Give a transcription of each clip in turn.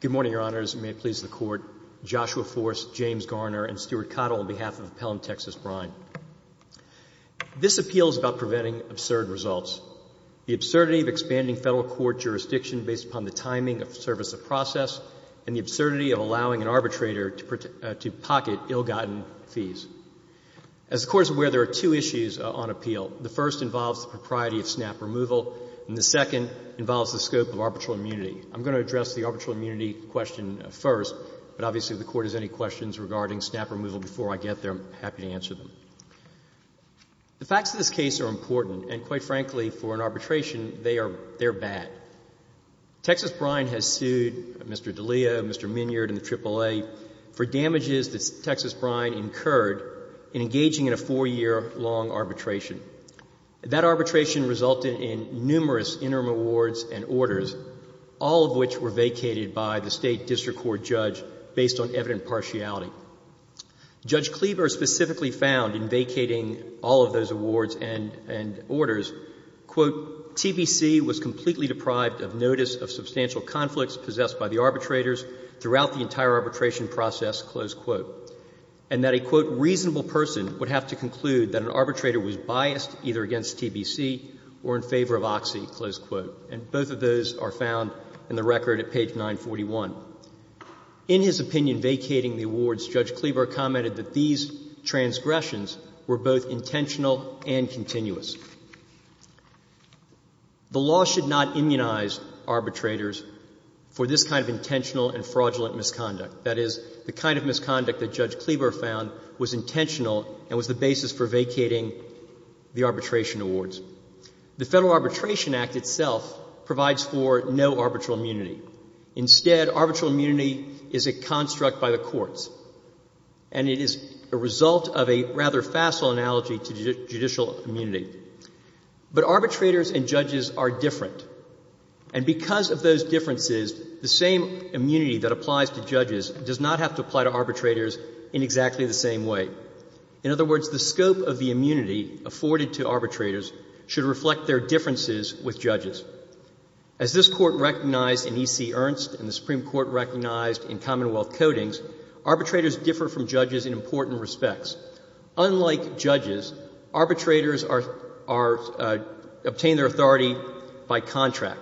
Good morning, Your Honors, and may it please the Court, Joshua Forst, James Garner, and Stuart Cottle on behalf of Appellant Texas Brine. This appeal is about preventing absurd results, the absurdity of expanding federal court jurisdiction based upon the timing of the service of process, and the absurdity of allowing an arbitrator to pocket ill-gotten fees. As the Court is aware, there are two issues on appeal. The first involves the propriety of snap removal, and the second involves the scope of arbitral immunity. I'm going to address the arbitral immunity question first, but obviously if the Court has any questions regarding snap removal before I get there, I'm happy to answer them. The facts of this case are important, and quite frankly, for an arbitration, they are bad. Texas Brine has sued Mr. DiLeo, Mr. Minyard, and the AAA for damages that Texas Brine incurred in engaging in a four-year long arbitration. That arbitration resulted in numerous interim awards and orders, all of which were vacated by the state district court judge based on evident partiality. Judge Cleaver specifically found in vacating all of those awards and orders, quote, TPC was completely deprived of notice of substantial conflicts possessed by the arbitrators throughout the entire arbitration process, close quote, and that a, quote, reasonable person would have to conclude that an arbitrator was biased either against TPC or in favor of Oxy, close quote. And both of those are found in the record at page 941. In his opinion vacating the awards, Judge Cleaver commented that these transgressions were both intentional and continuous. The law should not immunize arbitrators for this kind of intentional and fraudulent misconduct. That is, the kind of misconduct that Judge Cleaver found was intentional and was the basis for vacating the arbitration awards. The Federal Arbitration Act itself provides for no arbitral immunity. Instead, arbitral immunity is a construct by the courts, and it is a result of a rather facile analogy to judicial immunity. But arbitrators and judges are different, and because of those differences, the same immunity that applies to judges does not have to apply to arbitrators in exactly the same way. In other words, the scope of the immunity afforded to arbitrators should reflect their differences with judges. As this Court recognized in E.C. Ernst and the Supreme Court recognized in Commonwealth Codings, arbitrators differ from judges in important respects. Unlike judges, arbitrators are obtained their authority by contract,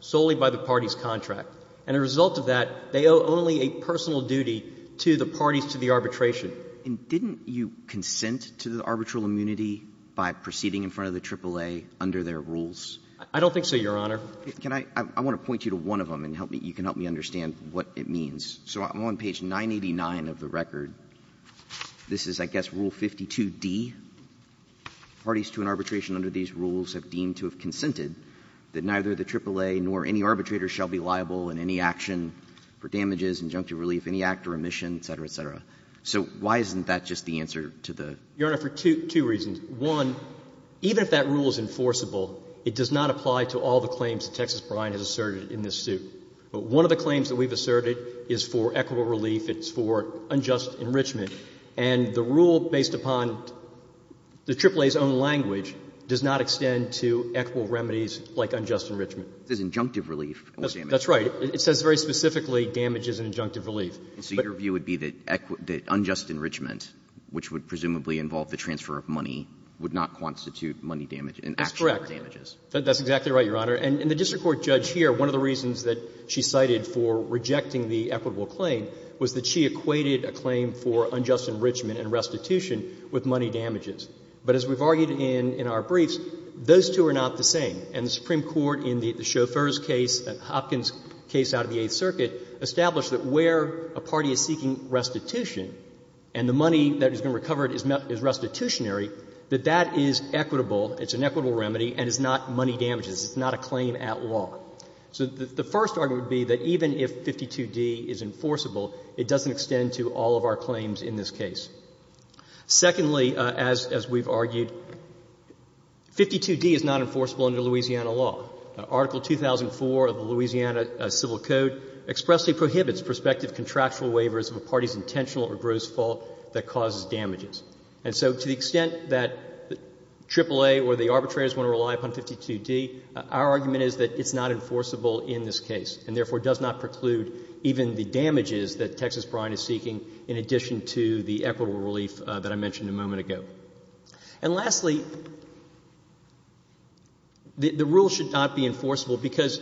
solely by the party's contract. And a result of that, they owe only a personal duty to the parties to the arbitration. And didn't you consent to the arbitral immunity by proceeding in front of the AAA under their rules? I don't think so, Your Honor. Can I – I want to point you to one of them and help me – you can help me understand what it means. So I'm on page 989 of the record. This is, I guess, Rule 52d. Parties to an arbitration under these rules have deemed to have consented that neither the AAA nor any arbitrator shall be liable in any action for damages, injunctive relief, any act or omission, et cetera, et cetera. So why isn't that just the answer to the – Your Honor, for two reasons. One, even if that rule is enforceable, it does not apply to all the claims that Texas Bryant has asserted in this suit. But one of the claims that we've asserted is for equitable relief, it's for unjust enrichment. And the rule based upon the AAA's own language does not extend to equitable remedies like unjust enrichment. This is injunctive relief. That's right. It says very specifically damage is an injunctive relief. So your view would be that unjust enrichment, which would presumably involve the transfer of money, would not constitute money damage in action for damages? That's correct. That's exactly right, Your Honor. And the district court judge here, one of the reasons that she cited for rejecting the equitable claim was that she equated a claim for unjust enrichment and restitution with money damages. But as we've argued in our briefs, those two are not the same. And the Supreme Court in the Chauffeur's case, Hopkins' case out of the Eighth Circuit, established that where a party is seeking restitution and the money that has been recovered is restitutionary, that that is equitable, it's an equitable remedy, and it's not money damages. It's not a claim at law. So the first argument would be that even if 52d is enforceable, it doesn't extend to all of our claims in this case. Secondly, as we've argued, 52d is not enforceable under Louisiana law. Article 2004 of the Louisiana Civil Code expressly prohibits prospective contractual waivers of a party's intentional or gross fault that causes damages. And so to the extent that AAA or the arbitrators want to rely upon 52d, our argument is that it's not enforceable in this case, and therefore does not preclude even the damages that Texas Bryant is seeking in addition to the equitable relief that I mentioned a moment ago. And lastly, the rule should not be enforceable because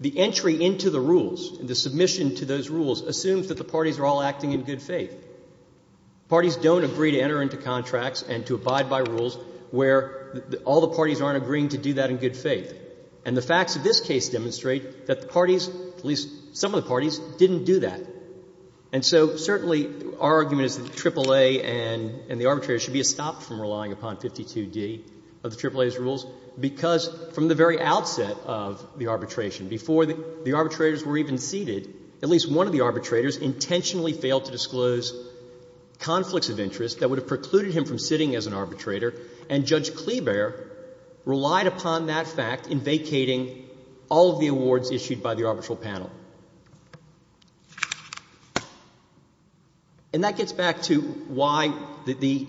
the entry into the rules, the submission to those rules, assumes that the parties are all acting in good faith. Parties don't agree to enter into contracts and to abide by rules where all the parties aren't agreeing to do that in good faith. And the facts of this case demonstrate that the parties, at least some of the parties, didn't do that. And so certainly our argument is that AAA and the arbitrators should be stopped from relying upon 52d of the AAA's rules, because from the very outset of the arbitration, before the arbitrators were even seated, at least one of the arbitrators intentionally failed to disclose conflicts of interest that would have precluded him from sitting as an arbitrator, and Judge Kleeber relied upon that fact in vacating all of the awards issued by the arbitral panel. And that gets back to why the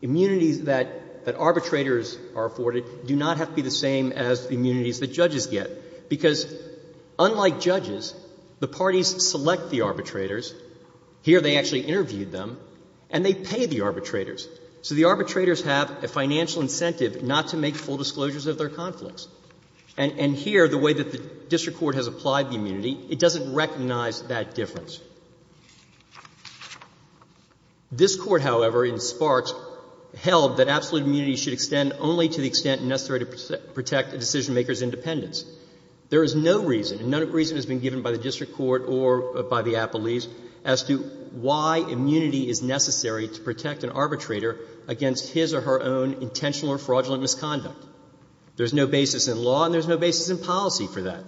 immunities that arbitrators are afforded do not have to be the same as the immunities that judges get, because unlike judges, the parties select the arbitrators. Here they actually interviewed them, and they pay the arbitrators. So the arbitrators have a financial incentive not to make full disclosures of their conflicts. And here, the way that the district court has applied the immunity, it doesn't recognize that difference. This Court, however, in Sparks held that absolute immunity should extend only to the extent necessary to protect a decisionmaker's independence. There is no reason, and no reason has been given by the district court or by the arbitrator, against his or her own intentional or fraudulent misconduct. There's no basis in law, and there's no basis in policy for that.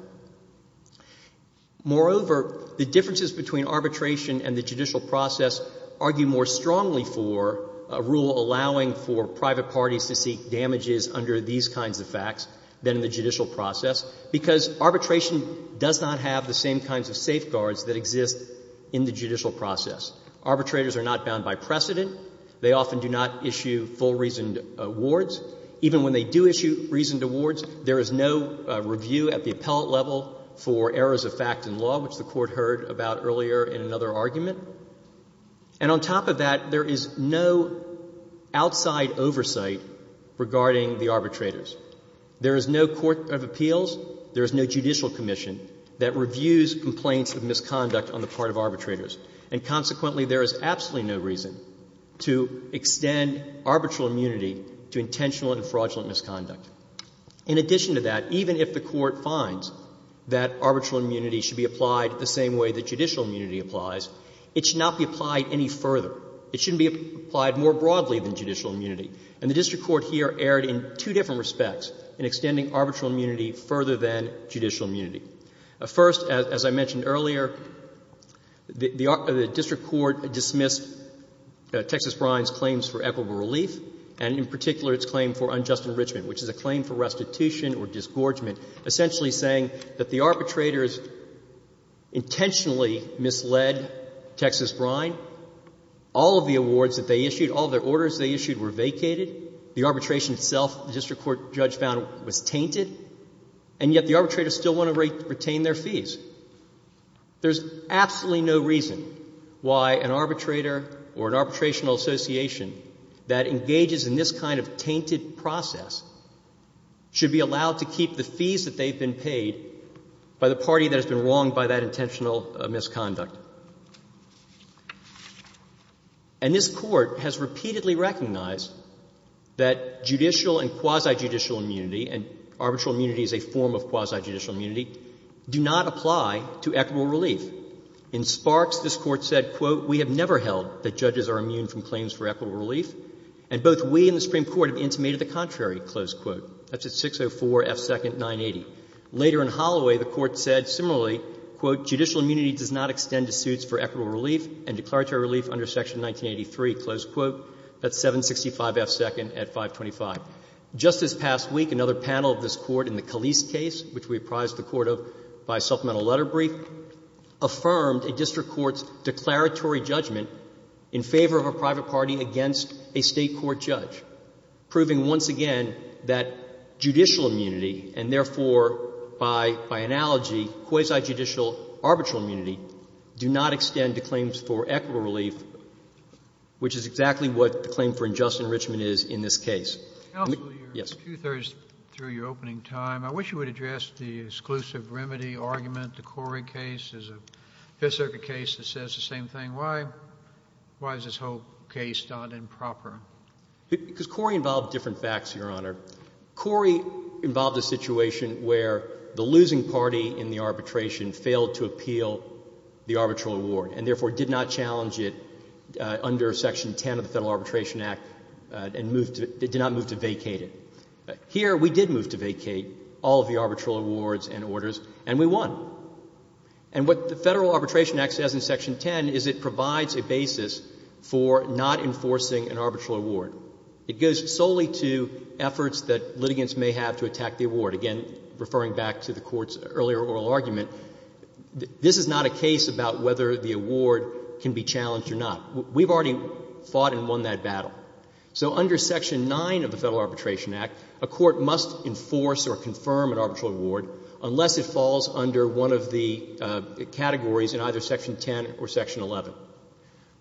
Moreover, the differences between arbitration and the judicial process argue more strongly for a rule allowing for private parties to seek damages under these kinds of facts than in the judicial process, because arbitration does not have the same kinds of safeguards that exist in the judicial process. Arbitrators are not bound by precedent. They often do not issue full reasoned awards. Even when they do issue reasoned awards, there is no review at the appellate level for errors of fact in law, which the Court heard about earlier in another argument. And on top of that, there is no outside oversight regarding the arbitrators. There is no court of appeals, there is no judicial commission that reviews complaints of misconduct on the part of arbitrators. And consequently, there is absolutely no reason to extend arbitral immunity to intentional and fraudulent misconduct. In addition to that, even if the Court finds that arbitral immunity should be applied the same way that judicial immunity applies, it should not be applied any further. It shouldn't be applied more broadly than judicial immunity. And the district court here erred in two different respects in extending arbitral immunity further than judicial immunity. First, as I mentioned earlier, the district court dismissed Texas Brine's claims for equitable relief, and in particular its claim for unjust enrichment, which is a claim for restitution or disgorgement, essentially saying that the arbitrators intentionally misled Texas Brine. All of the awards that they issued, all of their orders they issued were vacated. The arbitration itself, the district court judge found, was tainted. And yet the arbitrators still want to retain their fees. There's absolutely no reason why an arbitrator or an arbitrational association that engages in this kind of tainted process should be allowed to keep the fees that they've been paid by the party that has been wronged by that intentional misconduct. And this court has repeatedly recognized that judicial and arbitral immunity is a form of quasi-judicial immunity, do not apply to equitable relief. In Sparks, this Court said, quote, We have never held that judges are immune from claims for equitable relief, and both we and the Supreme Court have intimated the contrary, close quote. That's at 604 F. 2nd, 980. Later in Holloway, the Court said similarly, quote, Judicial immunity does not extend to suits for equitable relief and declaratory relief under Section 1983, close quote. That's 765 F. 2nd at 525. Just this past week, another panel of this Court in the Calise case, which we apprised the Court of by supplemental letter brief, affirmed a district court's declaratory judgment in favor of a private party against a State court judge, proving once again that judicial immunity and therefore, by analogy, quasi-judicial arbitral immunity do not extend to claims for equitable relief, which is exactly what the claim for unjust enrichment is in this case. Counsel, you're two-thirds through your opening time. I wish you would address the exclusive remedy argument. The Corey case is a Fifth Circuit case that says the same thing. Why is this whole case not improper? Because Corey involved different facts, Your Honor. Corey involved a situation where the losing party in the arbitration failed to appeal the arbitral award and therefore, did not challenge it under Section 10 of the Federal Arbitration Act, and therefore, did not move to vacate it. Here, we did move to vacate all of the arbitral awards and orders, and we won. And what the Federal Arbitration Act says in Section 10 is it provides a basis for not enforcing an arbitral award. It goes solely to efforts that litigants may have to attack the award. Again, referring back to the Court's earlier oral argument, this is not a case about whether the award can be challenged or not. We've already fought and won that battle. So under Section 9 of the Federal Arbitration Act, a court must enforce or confirm an arbitral award unless it falls under one of the categories in either Section 10 or Section 11.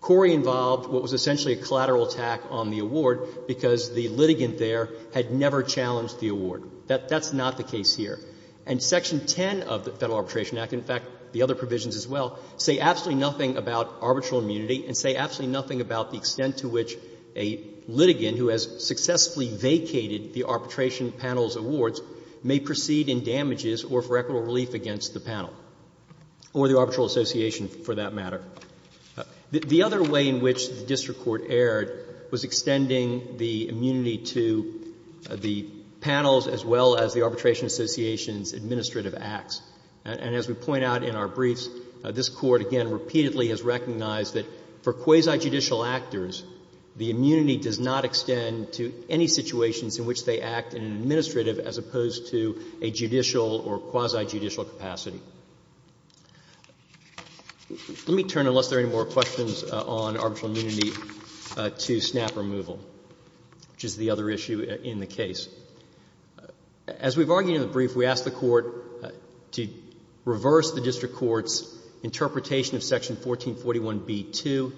Corey involved what was essentially a collateral attack on the award because the litigant there had never challenged the award. That's not the case here. And Section 10 of the Federal Arbitration Act, in fact, the other provisions as well, say absolutely nothing about arbitral immunity and say absolutely nothing about the extent to which a litigant who has successfully vacated the arbitration panel's awards may proceed in damages or for equitable relief against the panel or the arbitral association, for that matter. The other way in which the district court erred was extending the immunity to the panels as well as the arbitration association's administrative acts. And as we point out in our briefs, this Court, again, repeatedly has recognized that for quasi-judicial actors, the immunity does not extend to any situations in which they act in an administrative as opposed to a judicial or quasi-judicial capacity. Let me turn, unless there are any more questions on arbitral immunity, to snap removal, which is the other issue in the case. As we've argued in the brief, we asked the Court to reverse the district court's interpretation of Section 1441b-2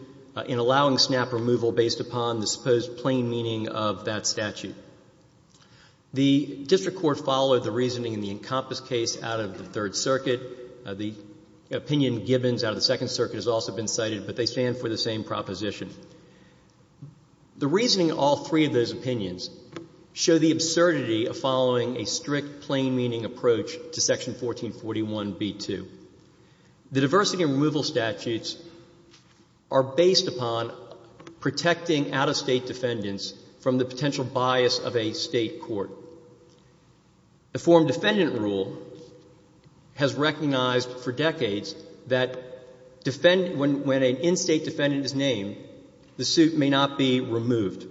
in allowing snap removal based upon the supposed plain meaning of that statute. The district court followed the reasoning in the Encompass case out of the Third Circuit. The opinion Gibbons out of the Second Circuit has also been cited, but they stand for the same proposition. The reasoning of all three of those opinions show the absurdity of following a strict, plain-meaning approach to Section 1441b-2. The diversity and removal statutes are based upon protecting out-of-State defendants from the potential bias of a State court. The Foreign Defendant Rule has recognized for decades that when an in-State defendant is named, the suit may not be removed,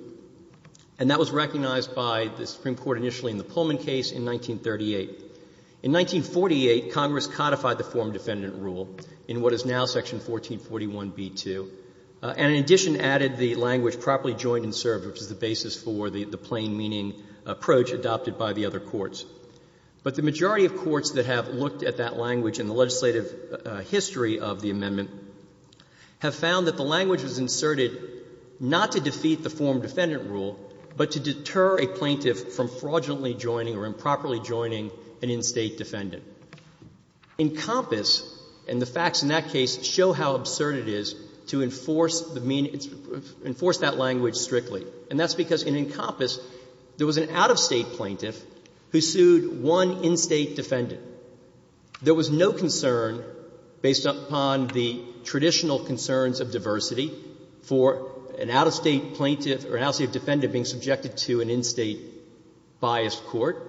and that was recognized by the Supreme Court initially in the Pullman case in 1938. In 1948, Congress codified the Foreign Defendant Rule in what is now Section 1441b-2, and in addition added the language properly joined and served, which is the basis for the plain-meaning approach adopted by the other courts. But the majority of courts that have looked at that language in the legislative history of the amendment have found that the language was inserted not to defeat the Foreign Defendant Rule, but to deter a plaintiff from fraudulently joining or improperly joining an in-State defendant. Encompass and the facts in that case show how absurd it is to enforce the mean of the language strictly, and that's because in Encompass there was an out-of-State plaintiff who sued one in-State defendant. There was no concern, based upon the traditional concerns of diversity, for an out-of-State plaintiff or an out-of-State defendant being subjected to an in-State biased court.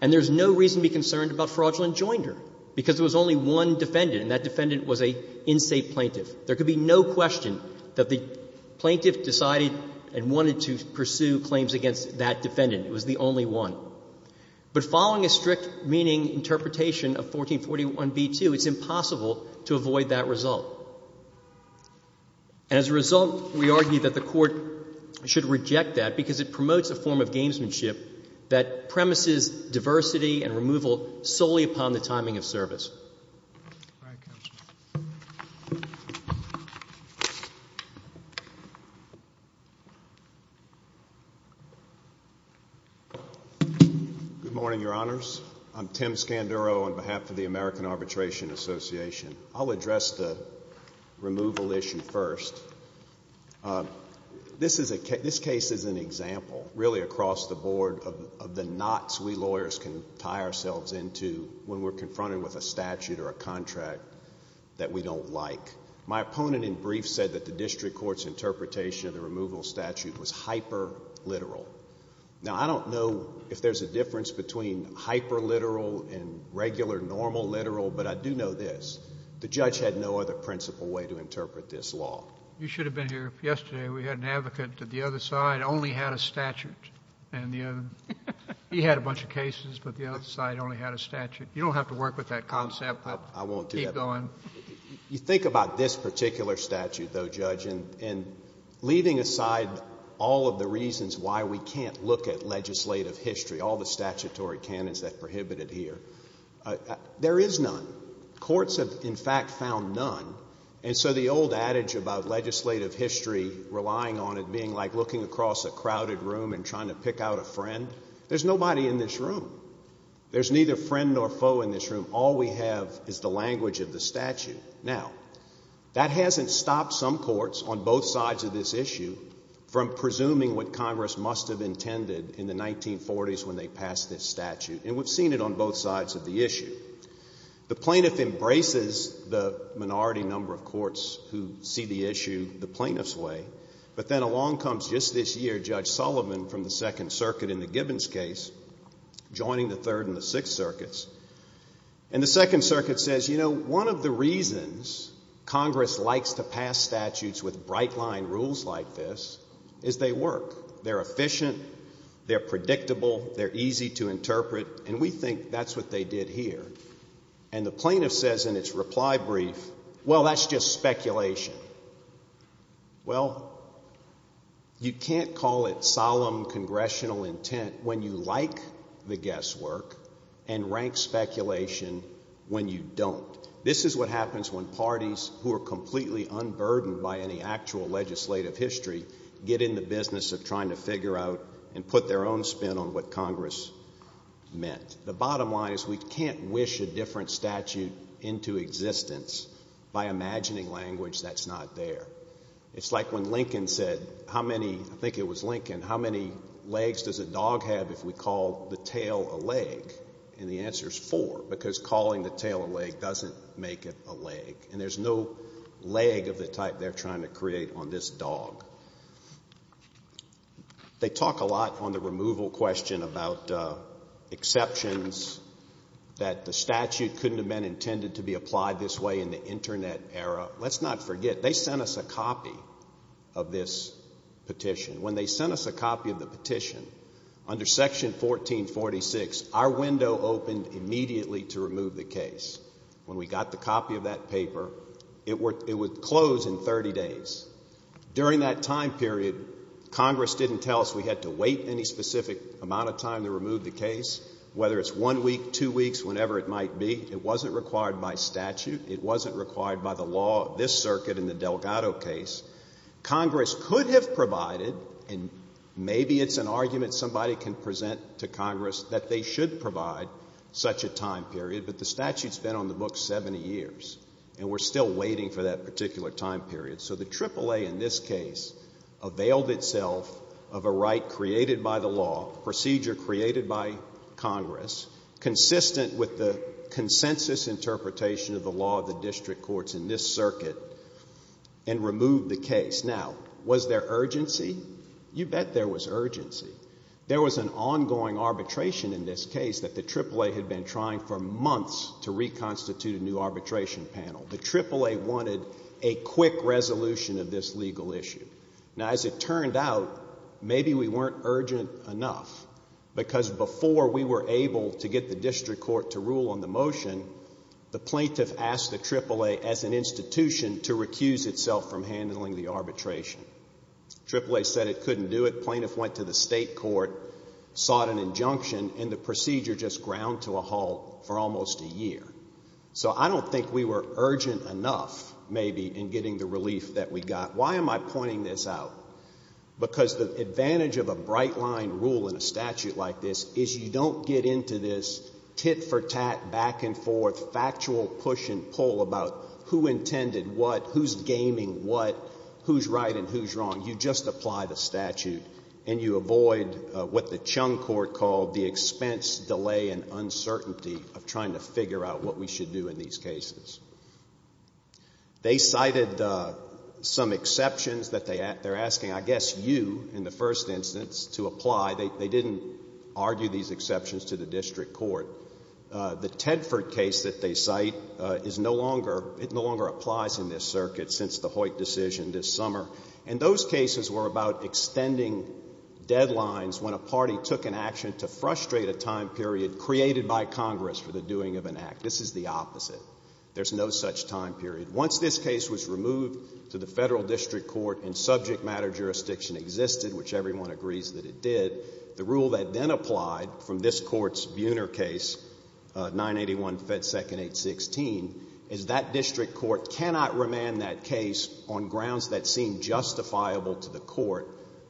And there's no reason to be concerned about fraudulent joinder, because there was only one defendant, and that defendant was an in-State plaintiff. There could be no question that the plaintiff decided and wanted to pursue claims against that defendant. It was the only one. But following a strict meaning interpretation of 1441b-2, it's impossible to avoid that result. And as a result, we argue that the Court should reject that, because it promotes a form of gamesmanship that premises diversity and removal solely upon the timing of service. All right, Counsel. Good morning, Your Honors. I'm Tim Scanduro on behalf of the American Arbitration Association. I'll address the removal issue first. This case is an example, really across the board, of the knots we lawyers can tie ourselves into when we're confronted with a statute or a contract that we don't like. My opponent in brief said that the district court's interpretation of the removal statute was hyper-literal. Now, I don't know if there's a difference between hyper-literal and regular normal literal, but I do know this. The judge had no other principal way to interpret this law. You should have been here yesterday. We had an advocate that the other side only had a statute. And he had a bunch of cases, but the other side only had a statute. You don't have to work with that concept, but keep going. You think about this particular statute, though, Judge, and leaving aside all of the reasons why we can't look at legislative history, all the statutory canons that prohibited here, there is none. Courts have, in fact, found none. And so the old adage about legislative history relying on it being like looking across a crowded room and trying to pick out a friend, there's nobody in this room. There's neither friend nor foe in this room. All we have is the language of the statute. Now, that hasn't stopped some courts on both sides of this issue from presuming what Congress must have intended in the 1940s when they passed this statute. And we've seen it on both sides of the issue. The plaintiff embraces the minority number of courts who see the issue the plaintiff's way. But then along comes just this year Judge Sullivan from the Second Circuit in the Gibbons case, joining the Third and the Sixth Circuits. And the Second Circuit says, you know, one of the reasons Congress likes to pass statutes with bright-line rules like this is they work. They're efficient. They're predictable. They're easy to interpret. And we think that's what they did here. And the plaintiff says in its reply brief, well, that's just speculation. Well, you can't call it solemn congressional intent when you like the guesswork and rank speculation when you don't. This is what happens when parties who are completely unburdened by any actual legislative history get in the business of trying to figure out and put their own spin on what Congress meant. The bottom line is we can't wish a different statute into existence by imagining language that's not there. It's like when Lincoln said, how many, I think it was Lincoln, how many legs does a dog have if we call the tail a leg? And the answer is four, because calling the tail a leg doesn't make it a leg. And there's no leg of the type they're trying to create on this dog. They talk a lot on the removal question about exceptions that the statute couldn't have been intended to be applied this way in the Internet era. Let's not forget, they sent us a copy of this petition. When they sent us a copy of the petition, under Section 1446, our window opened immediately to remove the case. When we got the copy of that paper, it would close in 30 days. During that time period, Congress didn't tell us we had to wait any specific amount of time to remove the case, whether it's one week, two weeks, whenever it might be. It wasn't required by statute. It wasn't required by the law of this circuit in the Delgado case. Congress could have provided, and maybe it's an argument somebody can present to Congress that they should provide such a time period, but the statute's been on the books 70 years, and we're still waiting for that particular time period. So the AAA in this case availed itself of a right created by the law, procedure created by Congress, consistent with the consensus interpretation of the law of the district courts in this circuit, and removed the case. You bet there was urgency. There was an ongoing arbitration in this case that the AAA had been trying for months to reconstitute a new arbitration panel. The AAA wanted a quick resolution of this legal issue. Now, as it turned out, maybe we weren't urgent enough, because before we were able to get the district court to rule on the motion, the plaintiff asked the AAA, as an institution, to recuse itself from handling the arbitration. AAA said it couldn't do it. The plaintiff went to the state court, sought an injunction, and the procedure just ground to a halt for almost a year. So I don't think we were urgent enough, maybe, in getting the relief that we got. Why am I pointing this out? Because the advantage of a bright-line rule in a statute like this is you don't get into this tit-for-tat, back-and-forth, factual push-and-pull about who intended what, who's gaming what, who's right and who's wrong. You just apply the statute, and you avoid what the Chung Court called the expense, delay, and uncertainty of trying to figure out what we should do in these cases. They cited some exceptions that they're asking, I guess, you, in the first instance, to apply. They didn't argue these exceptions to the district court. The Tedford case that they cite is no longer, it no longer applies in this circuit since the Hoyt decision this summer. And those cases were about extending deadlines when a party took an action to frustrate a time period created by Congress for the doing of an act. This is the opposite. There's no such time period. Once this case was removed to the federal district court and subject matter jurisdiction existed, which everyone agrees that it did, the rule that then applied from this court's Buhner case, 981 Fed 2nd 816, is that district court cannot remand that case on grounds that seem justifiable to the court,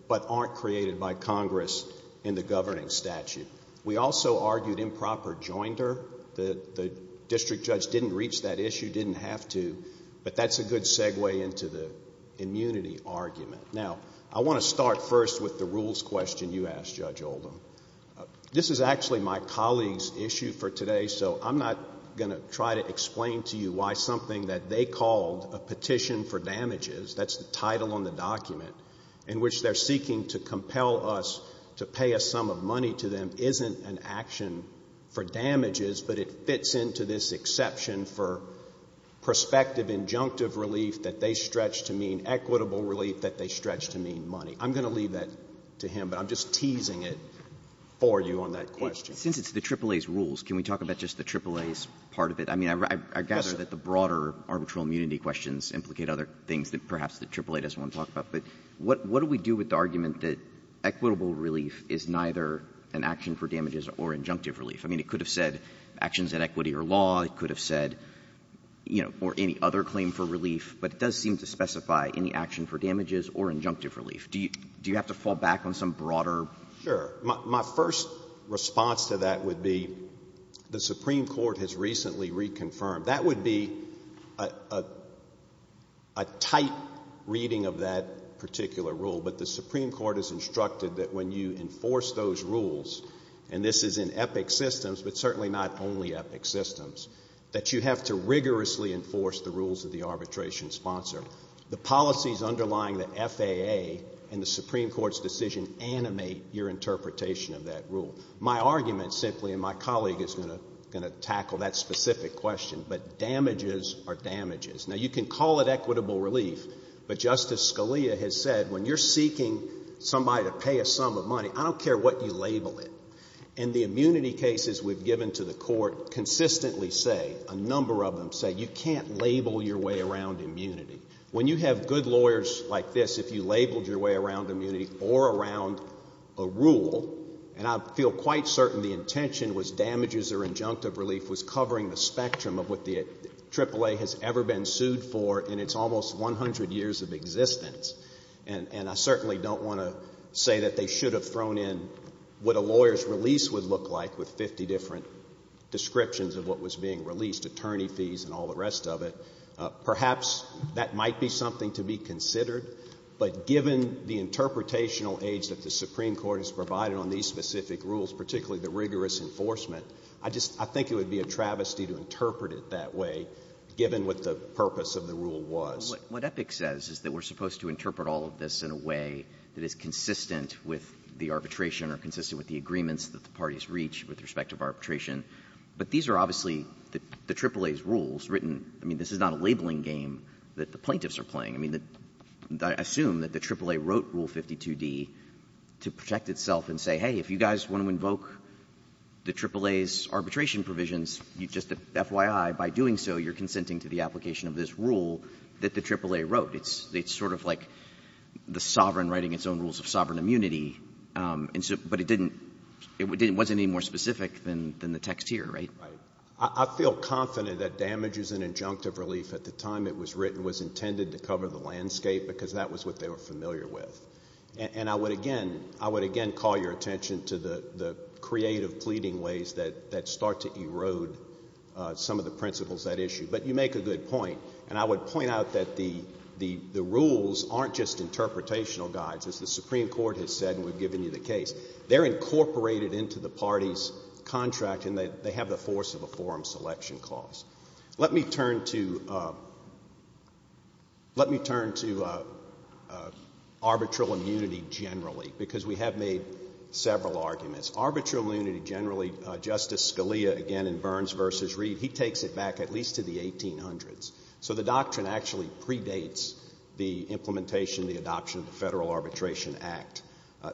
but aren't created by Congress in the governing statute. We also argued improper joinder. The district judge didn't reach that issue, didn't have to, but that's a good segue into the immunity argument. Now, I want to start first with the rules question you asked, Judge Oldham. This is actually my colleague's issue for today, so I'm not going to try to explain to you why something that they called a petition for damages. That's the title on the document, in which they're seeking to compel us to pay a sum of money to them isn't an action for damages, but it fits into this exception for prospective injunctive relief that they stretched to mean equitable relief that they stretched to mean money. I'm going to leave that to him, but I'm just teasing it for you on that question. Since it's the AAA's rules, can we talk about just the AAA's part of it? I mean, I gather that the broader arbitral immunity questions implicate other things that perhaps the AAA doesn't want to talk about, but what do we do with the argument that equitable relief is neither an action for damages or injunctive relief? I mean, it could have said actions in equity or law. It could have said, you know, or any other claim for relief, but it does seem to specify any action for damages or injunctive relief. Do you have to fall back on some broader — Sure. My first response to that would be the Supreme Court has recently reconfirmed. That would be a tight reading of that particular rule, but the Supreme Court has instructed that when you enforce those rules, and this is in EPIC systems, but certainly not only EPIC systems, that you have to rigorously enforce the rules that the arbitration sponsor. The policies underlying the FAA and the Supreme Court's decision animate your interpretation of that rule. My argument, simply, and my colleague is going to tackle that specific question, but damages are damages. Now, you can call it equitable relief, but Justice Scalia has said when you're seeking somebody to pay a sum of money, I don't care what you label it, and the immunity cases we've given to the court consistently say, a number of them say, you can't label your way around immunity. When you have good lawyers like this, if you labeled your way around immunity or around a rule, and I feel quite certain the intention was damages or injunctive relief was covering the spectrum of what the AAA has ever been sued for in its almost 100 years of existence, and I certainly don't want to say that they should have thrown in what a lawyer's release would look like with 50 different descriptions of what was being released, attorney fees and all the rest of it. Perhaps that might be something to be considered, but given the interpretational age that the Supreme Court has provided on these specific rules, particularly the rigorous enforcement, I just — I think it would be a travesty to interpret it that way, given what the purpose of the rule was. What Epic says is that we're supposed to interpret all of this in a way that is consistent with the arbitration or consistent with the agreements that the parties reach with respect to arbitration. But these are obviously the AAA's rules written — I mean, this is not a labeling game that the plaintiffs are playing. I mean, I assume that the AAA wrote Rule 52d to protect itself and say, hey, if you guys want to invoke the AAA's arbitration provisions, just FYI, by doing so, you're consenting to the application of this rule that the AAA wrote. It's sort of like the sovereign writing its own rules of sovereign immunity, but it didn't — it wasn't any more specific than the text here, right? Right. I feel confident that damages and injunctive relief at the time it was written was intended to cover the landscape because that was what they were familiar with. And I would again — I would again call your attention to the creative pleading ways that start to erode some of the principles of that issue. But you make a good point. And I would point out that the rules aren't just interpretational guides, as the Supreme Court has said and we've given you the case. They're incorporated into the party's contract and they have the force of a forum selection clause. Let me turn to — let me turn to arbitral immunity generally, because we have made several arguments. Arbitral immunity generally, Justice Scalia, again in Burns v. Reed, he takes it back at least to the 1800s. So the doctrine actually predates the implementation, the adoption of the Federal Arbitration Act.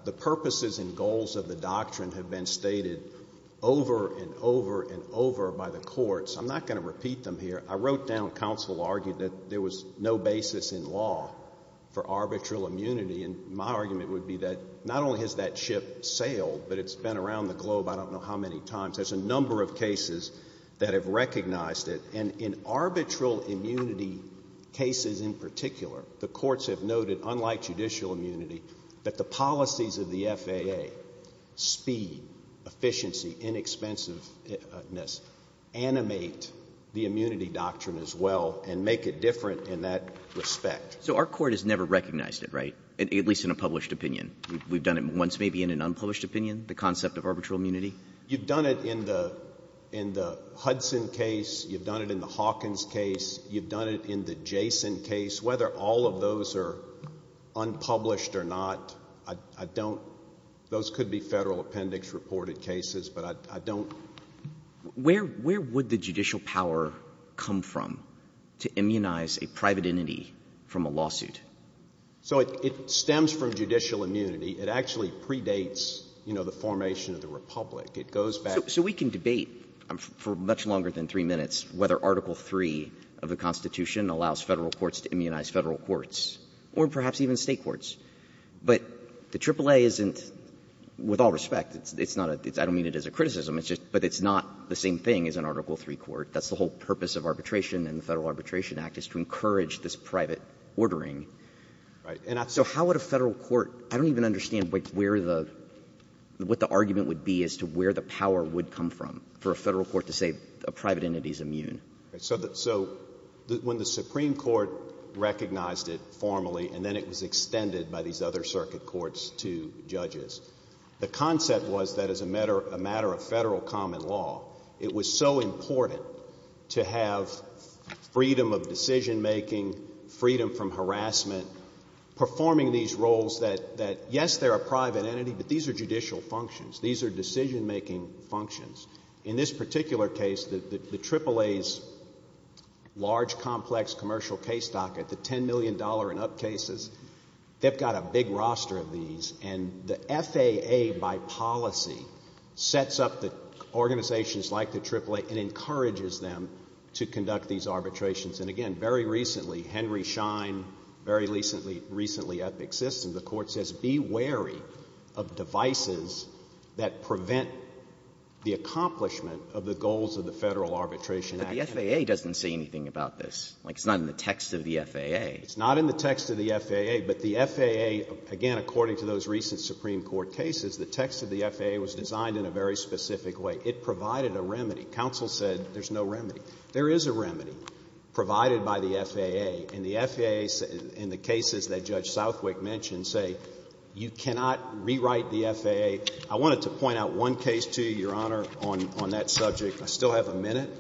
The purposes and goals of the doctrine have been stated over and over and over by the courts. I'm not going to repeat them here. I wrote down, counsel argued, that there was no basis in law for arbitral immunity and my argument would be that not only has that ship sailed, but it's been around the globe I don't know how many times. There's a number of cases that have recognized it. And in arbitral immunity cases in particular, the courts have noted, unlike judicial immunity, that the policies of the FAA — speed, efficiency, inexpensive-ness — animate the immunity doctrine as well and make it different in that respect. So our court has never recognized it, right? At least in a published opinion. We've done it once maybe in an unpublished opinion, the concept of arbitral immunity? You've done it in the Hudson case. You've done it in the Hawkins case. You've done it in the Jason case. Whether all of those are unpublished or not, I don't — those could be Federal Appendix reported cases, but I don't — Where would the judicial power come from to immunize a private entity from a lawsuit? So it stems from judicial immunity. It actually predates, you know, the formation of the Republic. It goes back — So we can debate for much longer than three minutes whether Article III of the Constitution allows Federal courts to immunize Federal courts or perhaps even State courts. But the AAA isn't — with all respect, it's not a — I don't mean it as a criticism. It's just — but it's not the same thing as an Article III court. That's the whole purpose of arbitration and the Federal Arbitration Act, is to encourage this private ordering. So how would a Federal court — I don't even understand where the — what the argument would be as to where the power would come from for a Federal court to say a private entity is immune. So when the Supreme Court recognized it formally and then it was extended by these other circuit courts to judges, the concept was that as a matter of Federal common law, it was so important to have freedom of decision-making, freedom from harassment, performing these roles that, yes, they're a private entity, but these are judicial functions. These are decision-making functions. In this particular case, the AAA's large, complex commercial case docket, the $10 million and up cases, they've got a big roster of these. And the FAA by policy sets up the organizations like the AAA and encourages them to conduct these arbitrations. And again, very recently, Henry Schein, very recently Epic Systems, the court says be wary of devices that prevent the accomplishment of the goals of the Federal Arbitration Act. But the FAA doesn't say anything about this. Like, it's not in the text of the FAA. It's not in the text of the FAA, but the FAA, again, according to those recent Supreme Court cases, the text of the FAA was designed in a very specific way. It provided a remedy. Counsel said there's no remedy. There is a remedy provided by the FAA, and the FAA in the cases that Judge Southwick mentioned say you cannot rewrite the FAA. I wanted to point out one case to you, Your Honor, on that subject. I still have a minute,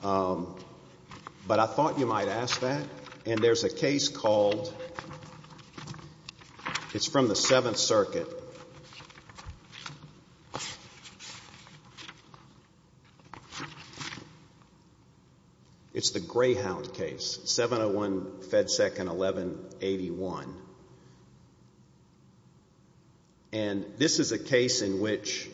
but I thought you might ask that. And there's a case called, it's from the Seventh Circuit. It's the Greyhound case, 701 Fed Second 1181. And this is a case in which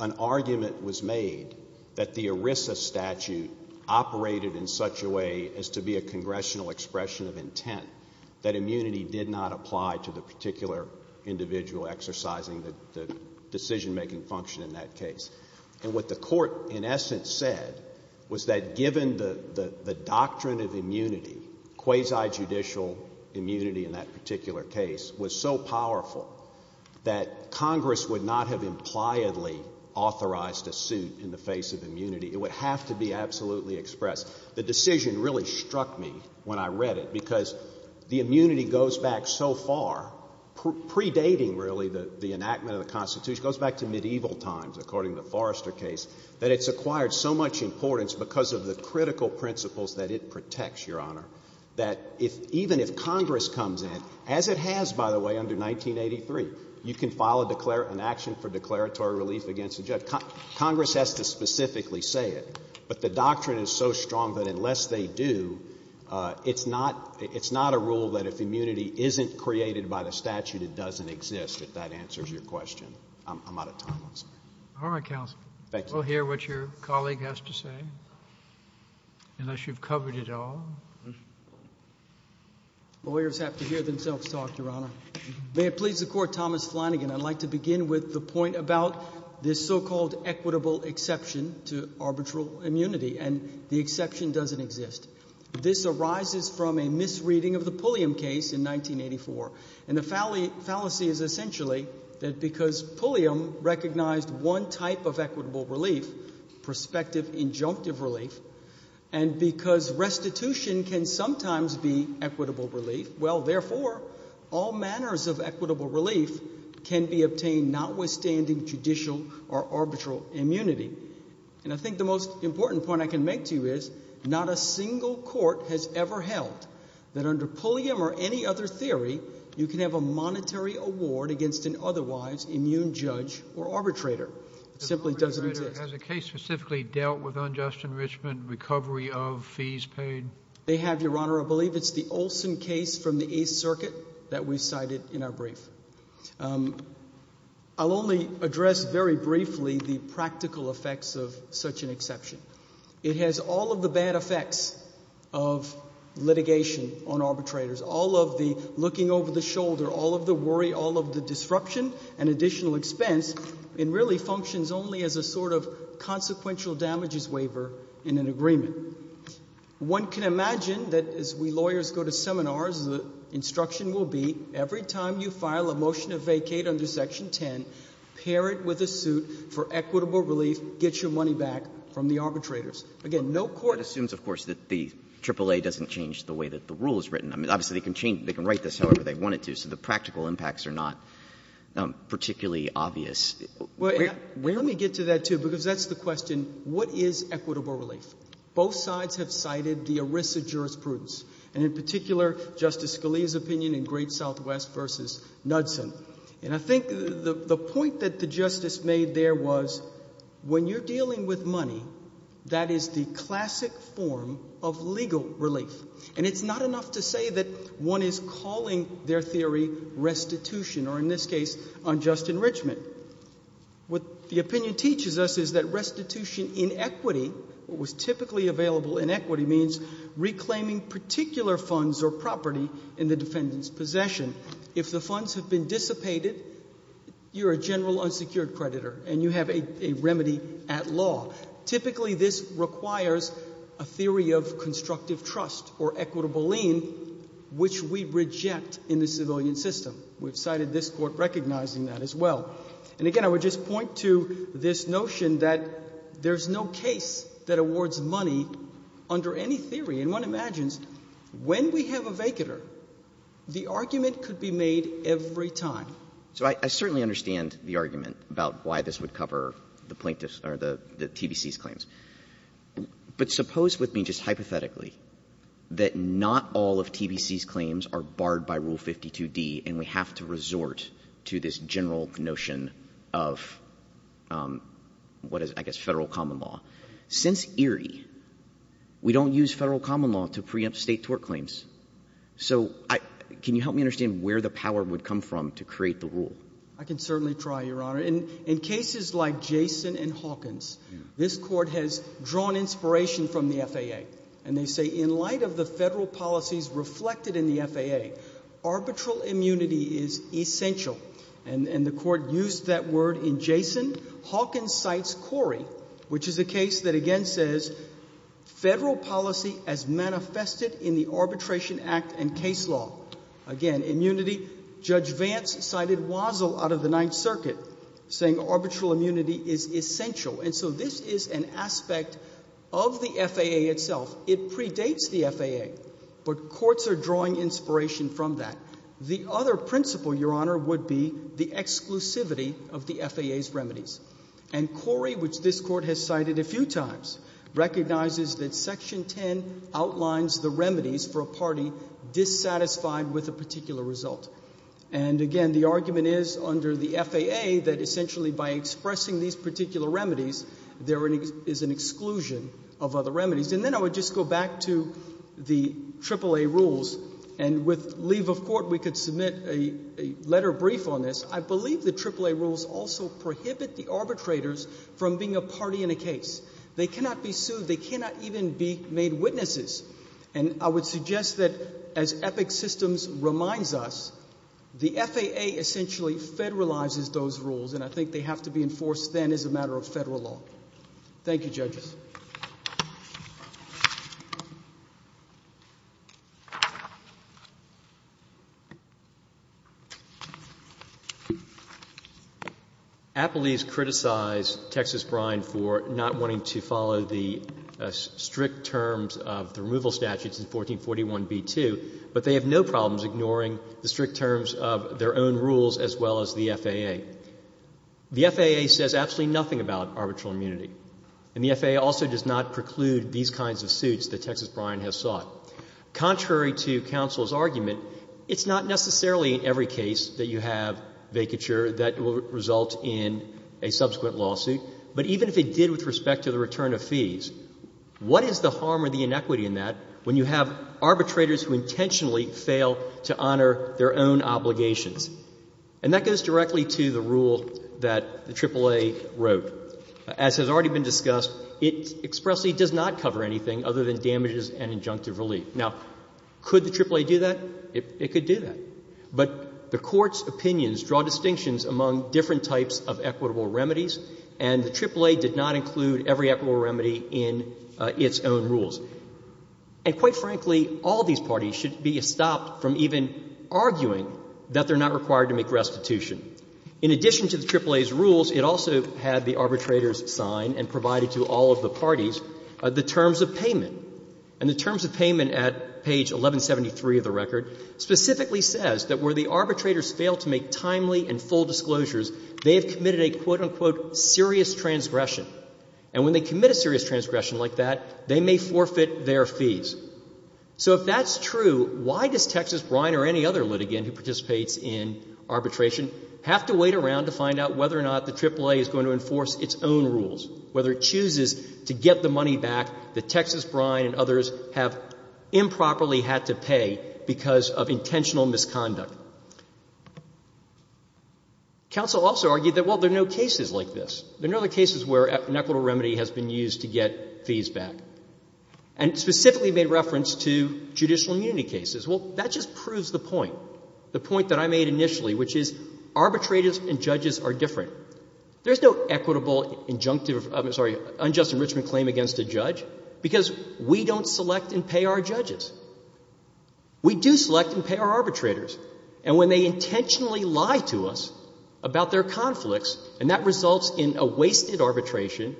an argument was made that the ERISA statute operated in such a way as to be a congressional expression of intent, that immunity did not apply to the particular individual exercising the decision-making function in that case. And what the court, in essence, said was that given the doctrine of immunity, quasi-judicial immunity in that particular case, was so powerful that Congress would not have impliedly authorized a suit in the face of immunity. It would have to be absolutely expressed. The decision really struck me when I read it, because the immunity goes back so far, predating really the enactment of the Constitution, it goes back to medieval times, according to the Forrester case, that it's acquired so much importance because of the critical principles that it protects, Your Honor, that even if Congress comes in, as it has, by the way, under 1983, you can file an action for declaratory relief against a judge. Congress has to specifically say it, but the doctrine is so strong that unless they do, it's not a rule that if immunity isn't created by the statute, it doesn't exist, if that answers your question. I'm out of time. I'm sorry. All right, counsel. Thank you. We'll hear what your colleague has to say, unless you've covered it all. Lawyers have to hear themselves talk, Your Honor. May it please the Court, Thomas Flanagan, I'd like to begin with the point about this so-called equitable exception to arbitral immunity, and the exception doesn't exist. This arises from a misreading of the Pulliam case in 1984, and the fallacy is essentially that because Pulliam recognized one type of equitable relief, prospective injunctive relief, and because restitution can sometimes be equitable relief, well, therefore, all manners of equitable arbitral immunity, and I think the most important point I can make to you is not a single court has ever held that under Pulliam or any other theory, you can have a monetary award against an otherwise immune judge or arbitrator. It simply doesn't exist. The Pulliam case specifically dealt with unjust enrichment, recovery of fees paid? They have, Your Honor. I believe it's the Olson case from the Eighth Circuit that we cited in our brief. I'll only address very briefly the practical effects of such an exception. It has all of the bad effects of litigation on arbitrators, all of the looking over the shoulder, all of the worry, all of the disruption and additional expense, and really functions only as a sort of consequential damages waiver in an agreement. One can imagine that as we lawyers go to seminars, the instruction will be every time you file a motion of vacate under Section 10, pair it with a suit for equitable relief, get your money back from the arbitrators. Again, no court — That assumes, of course, that the AAA doesn't change the way that the rule is written. I mean, obviously, they can change — they can write this however they wanted to, so the practical impacts are not particularly obvious. Well, let me get to that, too, because that's the question. What is equitable relief? Both sides have cited the ERISA jurisprudence, and in particular, Justice Scalia's opinion in Great Southwest v. Knudsen, and I think the point that the Justice made there was when you're dealing with money, that is the classic form of legal relief, and it's not enough to say that one is calling their theory restitution or, in this case, unjust enrichment. What the opinion teaches us is that restitution in equity, what was typically available in possession, if the funds have been dissipated, you're a general unsecured creditor and you have a remedy at law. Typically this requires a theory of constructive trust or equitable lien, which we reject in the civilian system. We have cited this Court recognizing that as well. And again, I would just point to this notion that there's no case that awards money under any theory. And one imagines when we have a vacular, the argument could be made every time. So I certainly understand the argument about why this would cover the plaintiff's or the TBC's claims. But suppose with me just hypothetically that not all of TBC's claims are barred by Rule 52d and we have to resort to this general notion of what is, I guess, Federal common law. Since Erie, we don't use Federal common law to preempt State tort claims. So can you help me understand where the power would come from to create the rule? I can certainly try, Your Honor. In cases like Jason and Hawkins, this Court has drawn inspiration from the FAA. And they say in light of the Federal policies reflected in the FAA, arbitral immunity is essential. And the Court used that word in Jason. Hawkins cites Corey, which is a case that, again, says Federal policy as manifested in the Arbitration Act and case law. Again, immunity. Judge Vance cited Wazzle out of the Ninth Circuit, saying arbitral immunity is essential. And so this is an aspect of the FAA itself. It predates the FAA. But courts are drawing inspiration from that. The other principle, Your Honor, would be the exclusivity of the FAA's remedies. And Corey, which this Court has cited a few times, recognizes that Section 10 outlines the remedies for a party dissatisfied with a particular result. And again, the argument is under the FAA that essentially by expressing these particular remedies, there is an exclusion of other remedies. And then I would just go back to the AAA rules. And with leave of court, we could submit a letter brief on this. I believe the AAA rules also prohibit the arbitrators from being a party in a case. They cannot be sued. They cannot even be made witnesses. And I would suggest that, as Epic Systems reminds us, the FAA essentially federalizes those rules. And I think they have to be enforced then as a matter of Federal law. Thank you, judges. Appellees criticize Texas Brine for not wanting to follow the strict terms of the removal statutes in 1441b-2, but they have no problems ignoring the strict terms of their own rules as well as the FAA. The FAA says absolutely nothing about arbitral immunity. And that also does not preclude these kinds of suits that Texas Brine has sought. Contrary to counsel's argument, it's not necessarily in every case that you have vacature that will result in a subsequent lawsuit. But even if it did with respect to the return of fees, what is the harm or the inequity in that when you have arbitrators who intentionally fail to honor their own obligations? And that goes directly to the rule that the AAA wrote. As has already been discussed, it expressly does not cover anything other than damages and injunctive relief. Now, could the AAA do that? It could do that. But the Court's opinions draw distinctions among different types of equitable remedies, and the AAA did not include every equitable remedy in its own rules. And quite frankly, all these parties should be stopped from even arguing that they're not required to make restitution. In addition to the AAA's rules, it also had the arbitrators sign and provide it to all of the parties the terms of payment. And the terms of payment at page 1173 of the record specifically says that where the arbitrators fail to make timely and full disclosures, they have committed a, quote, unquote, serious transgression. And when they commit a serious transgression like that, they may forfeit their fees. So if that's true, why does Texas Brine or any other litigant who participates in arbitration have to wait around to find out whether or not the AAA is going to enforce its own rules, whether it chooses to get the money back that Texas Brine and others have improperly had to pay because of intentional misconduct? Counsel also argued that, well, there are no cases like this. There are no other cases where an equitable remedy has been used to get fees back. And specifically made reference to judicial immunity cases. Well, that just proves the point. The point that I made initially, which is arbitrators and judges are different. There's no equitable injunctive, I'm sorry, unjust enrichment claim against a judge because we don't select and pay our judges. We do select and pay our arbitrators. And when they intentionally lie to us about their conflicts and that results in a wasted arbitration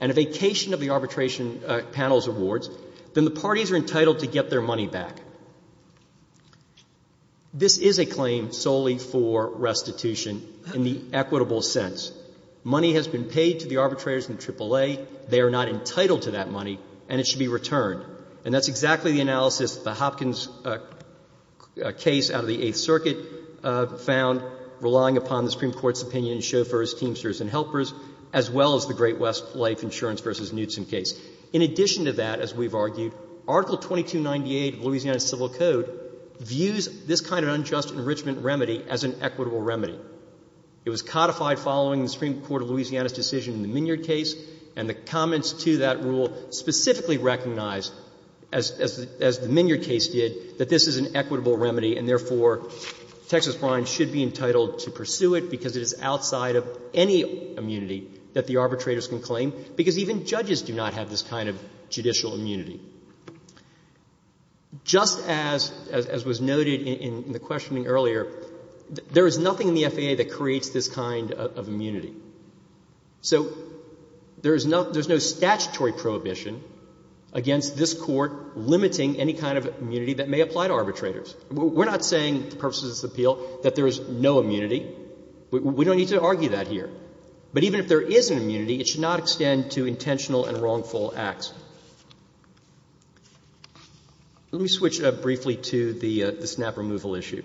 and a vacation of the arbitration panel's awards, then the parties are entitled to get their money back. This is a claim solely for restitution in the equitable sense. Money has been paid to the arbitrators in the AAA. They are not entitled to that money, and it should be returned. And that's exactly the analysis of the Hopkins case out of the Eighth Circuit found relying upon the Supreme Court's opinion in Chauffeurs, Teamsters and Helpers as well as the Great West Life Insurance v. Knutson case. In addition to that, as we've argued, Article 2298 of Louisiana Civil Code views this kind of unjust enrichment remedy as an equitable remedy. It was codified following the Supreme Court of Louisiana's decision in the Minyard case, and the comments to that rule specifically recognized, as the Minyard case did, that this is an equitable remedy and, therefore, Texas brines should be entitled to pursue it because it is outside of any immunity that the arbitrators can claim because even judges do not have this kind of judicial immunity. Just as was noted in the questioning earlier, there is nothing in the FAA that creates this kind of immunity. So there is no statutory prohibition against this Court limiting any kind of immunity that may apply to arbitrators. We're not saying, for the purposes of this appeal, that there is no immunity. We don't need to argue that here. But even if there is an immunity, it should not extend to intentional and wrongful acts. Let me switch briefly to the snap removal issue.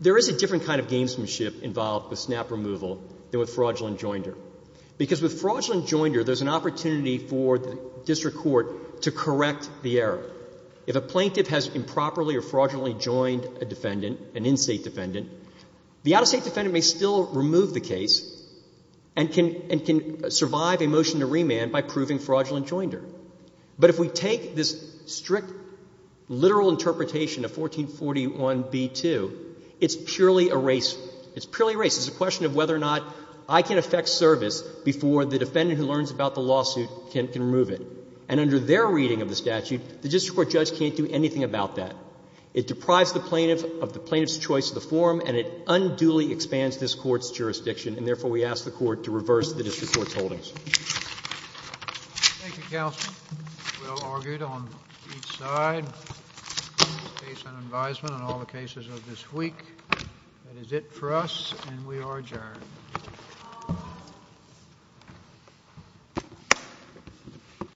There is a different kind of gamesmanship involved with snap removal than with fraudulent joinder, because with fraudulent joinder, there's an opportunity for the district court to correct the error. If a plaintiff has improperly or fraudulently joined a defendant, an in-State defendant, the out-of-State defendant may still remove the case and can survive a motion to remand by proving fraudulent joinder. But if we take this strict literal interpretation of 1441b-2, it's purely a race. It's purely a race. It's a question of whether or not I can effect service before the defendant who learns about the lawsuit can remove it. And under their reading of the statute, the district court judge can't do anything about that. It deprives the plaintiff of the plaintiff's choice of the forum, and it unduly expands this Court's jurisdiction. And therefore, we ask the Court to reverse the district court's holdings. Thank you, counsel. Well argued on each side. Case and advisement on all the cases of this week. That is it for us, and we are adjourned.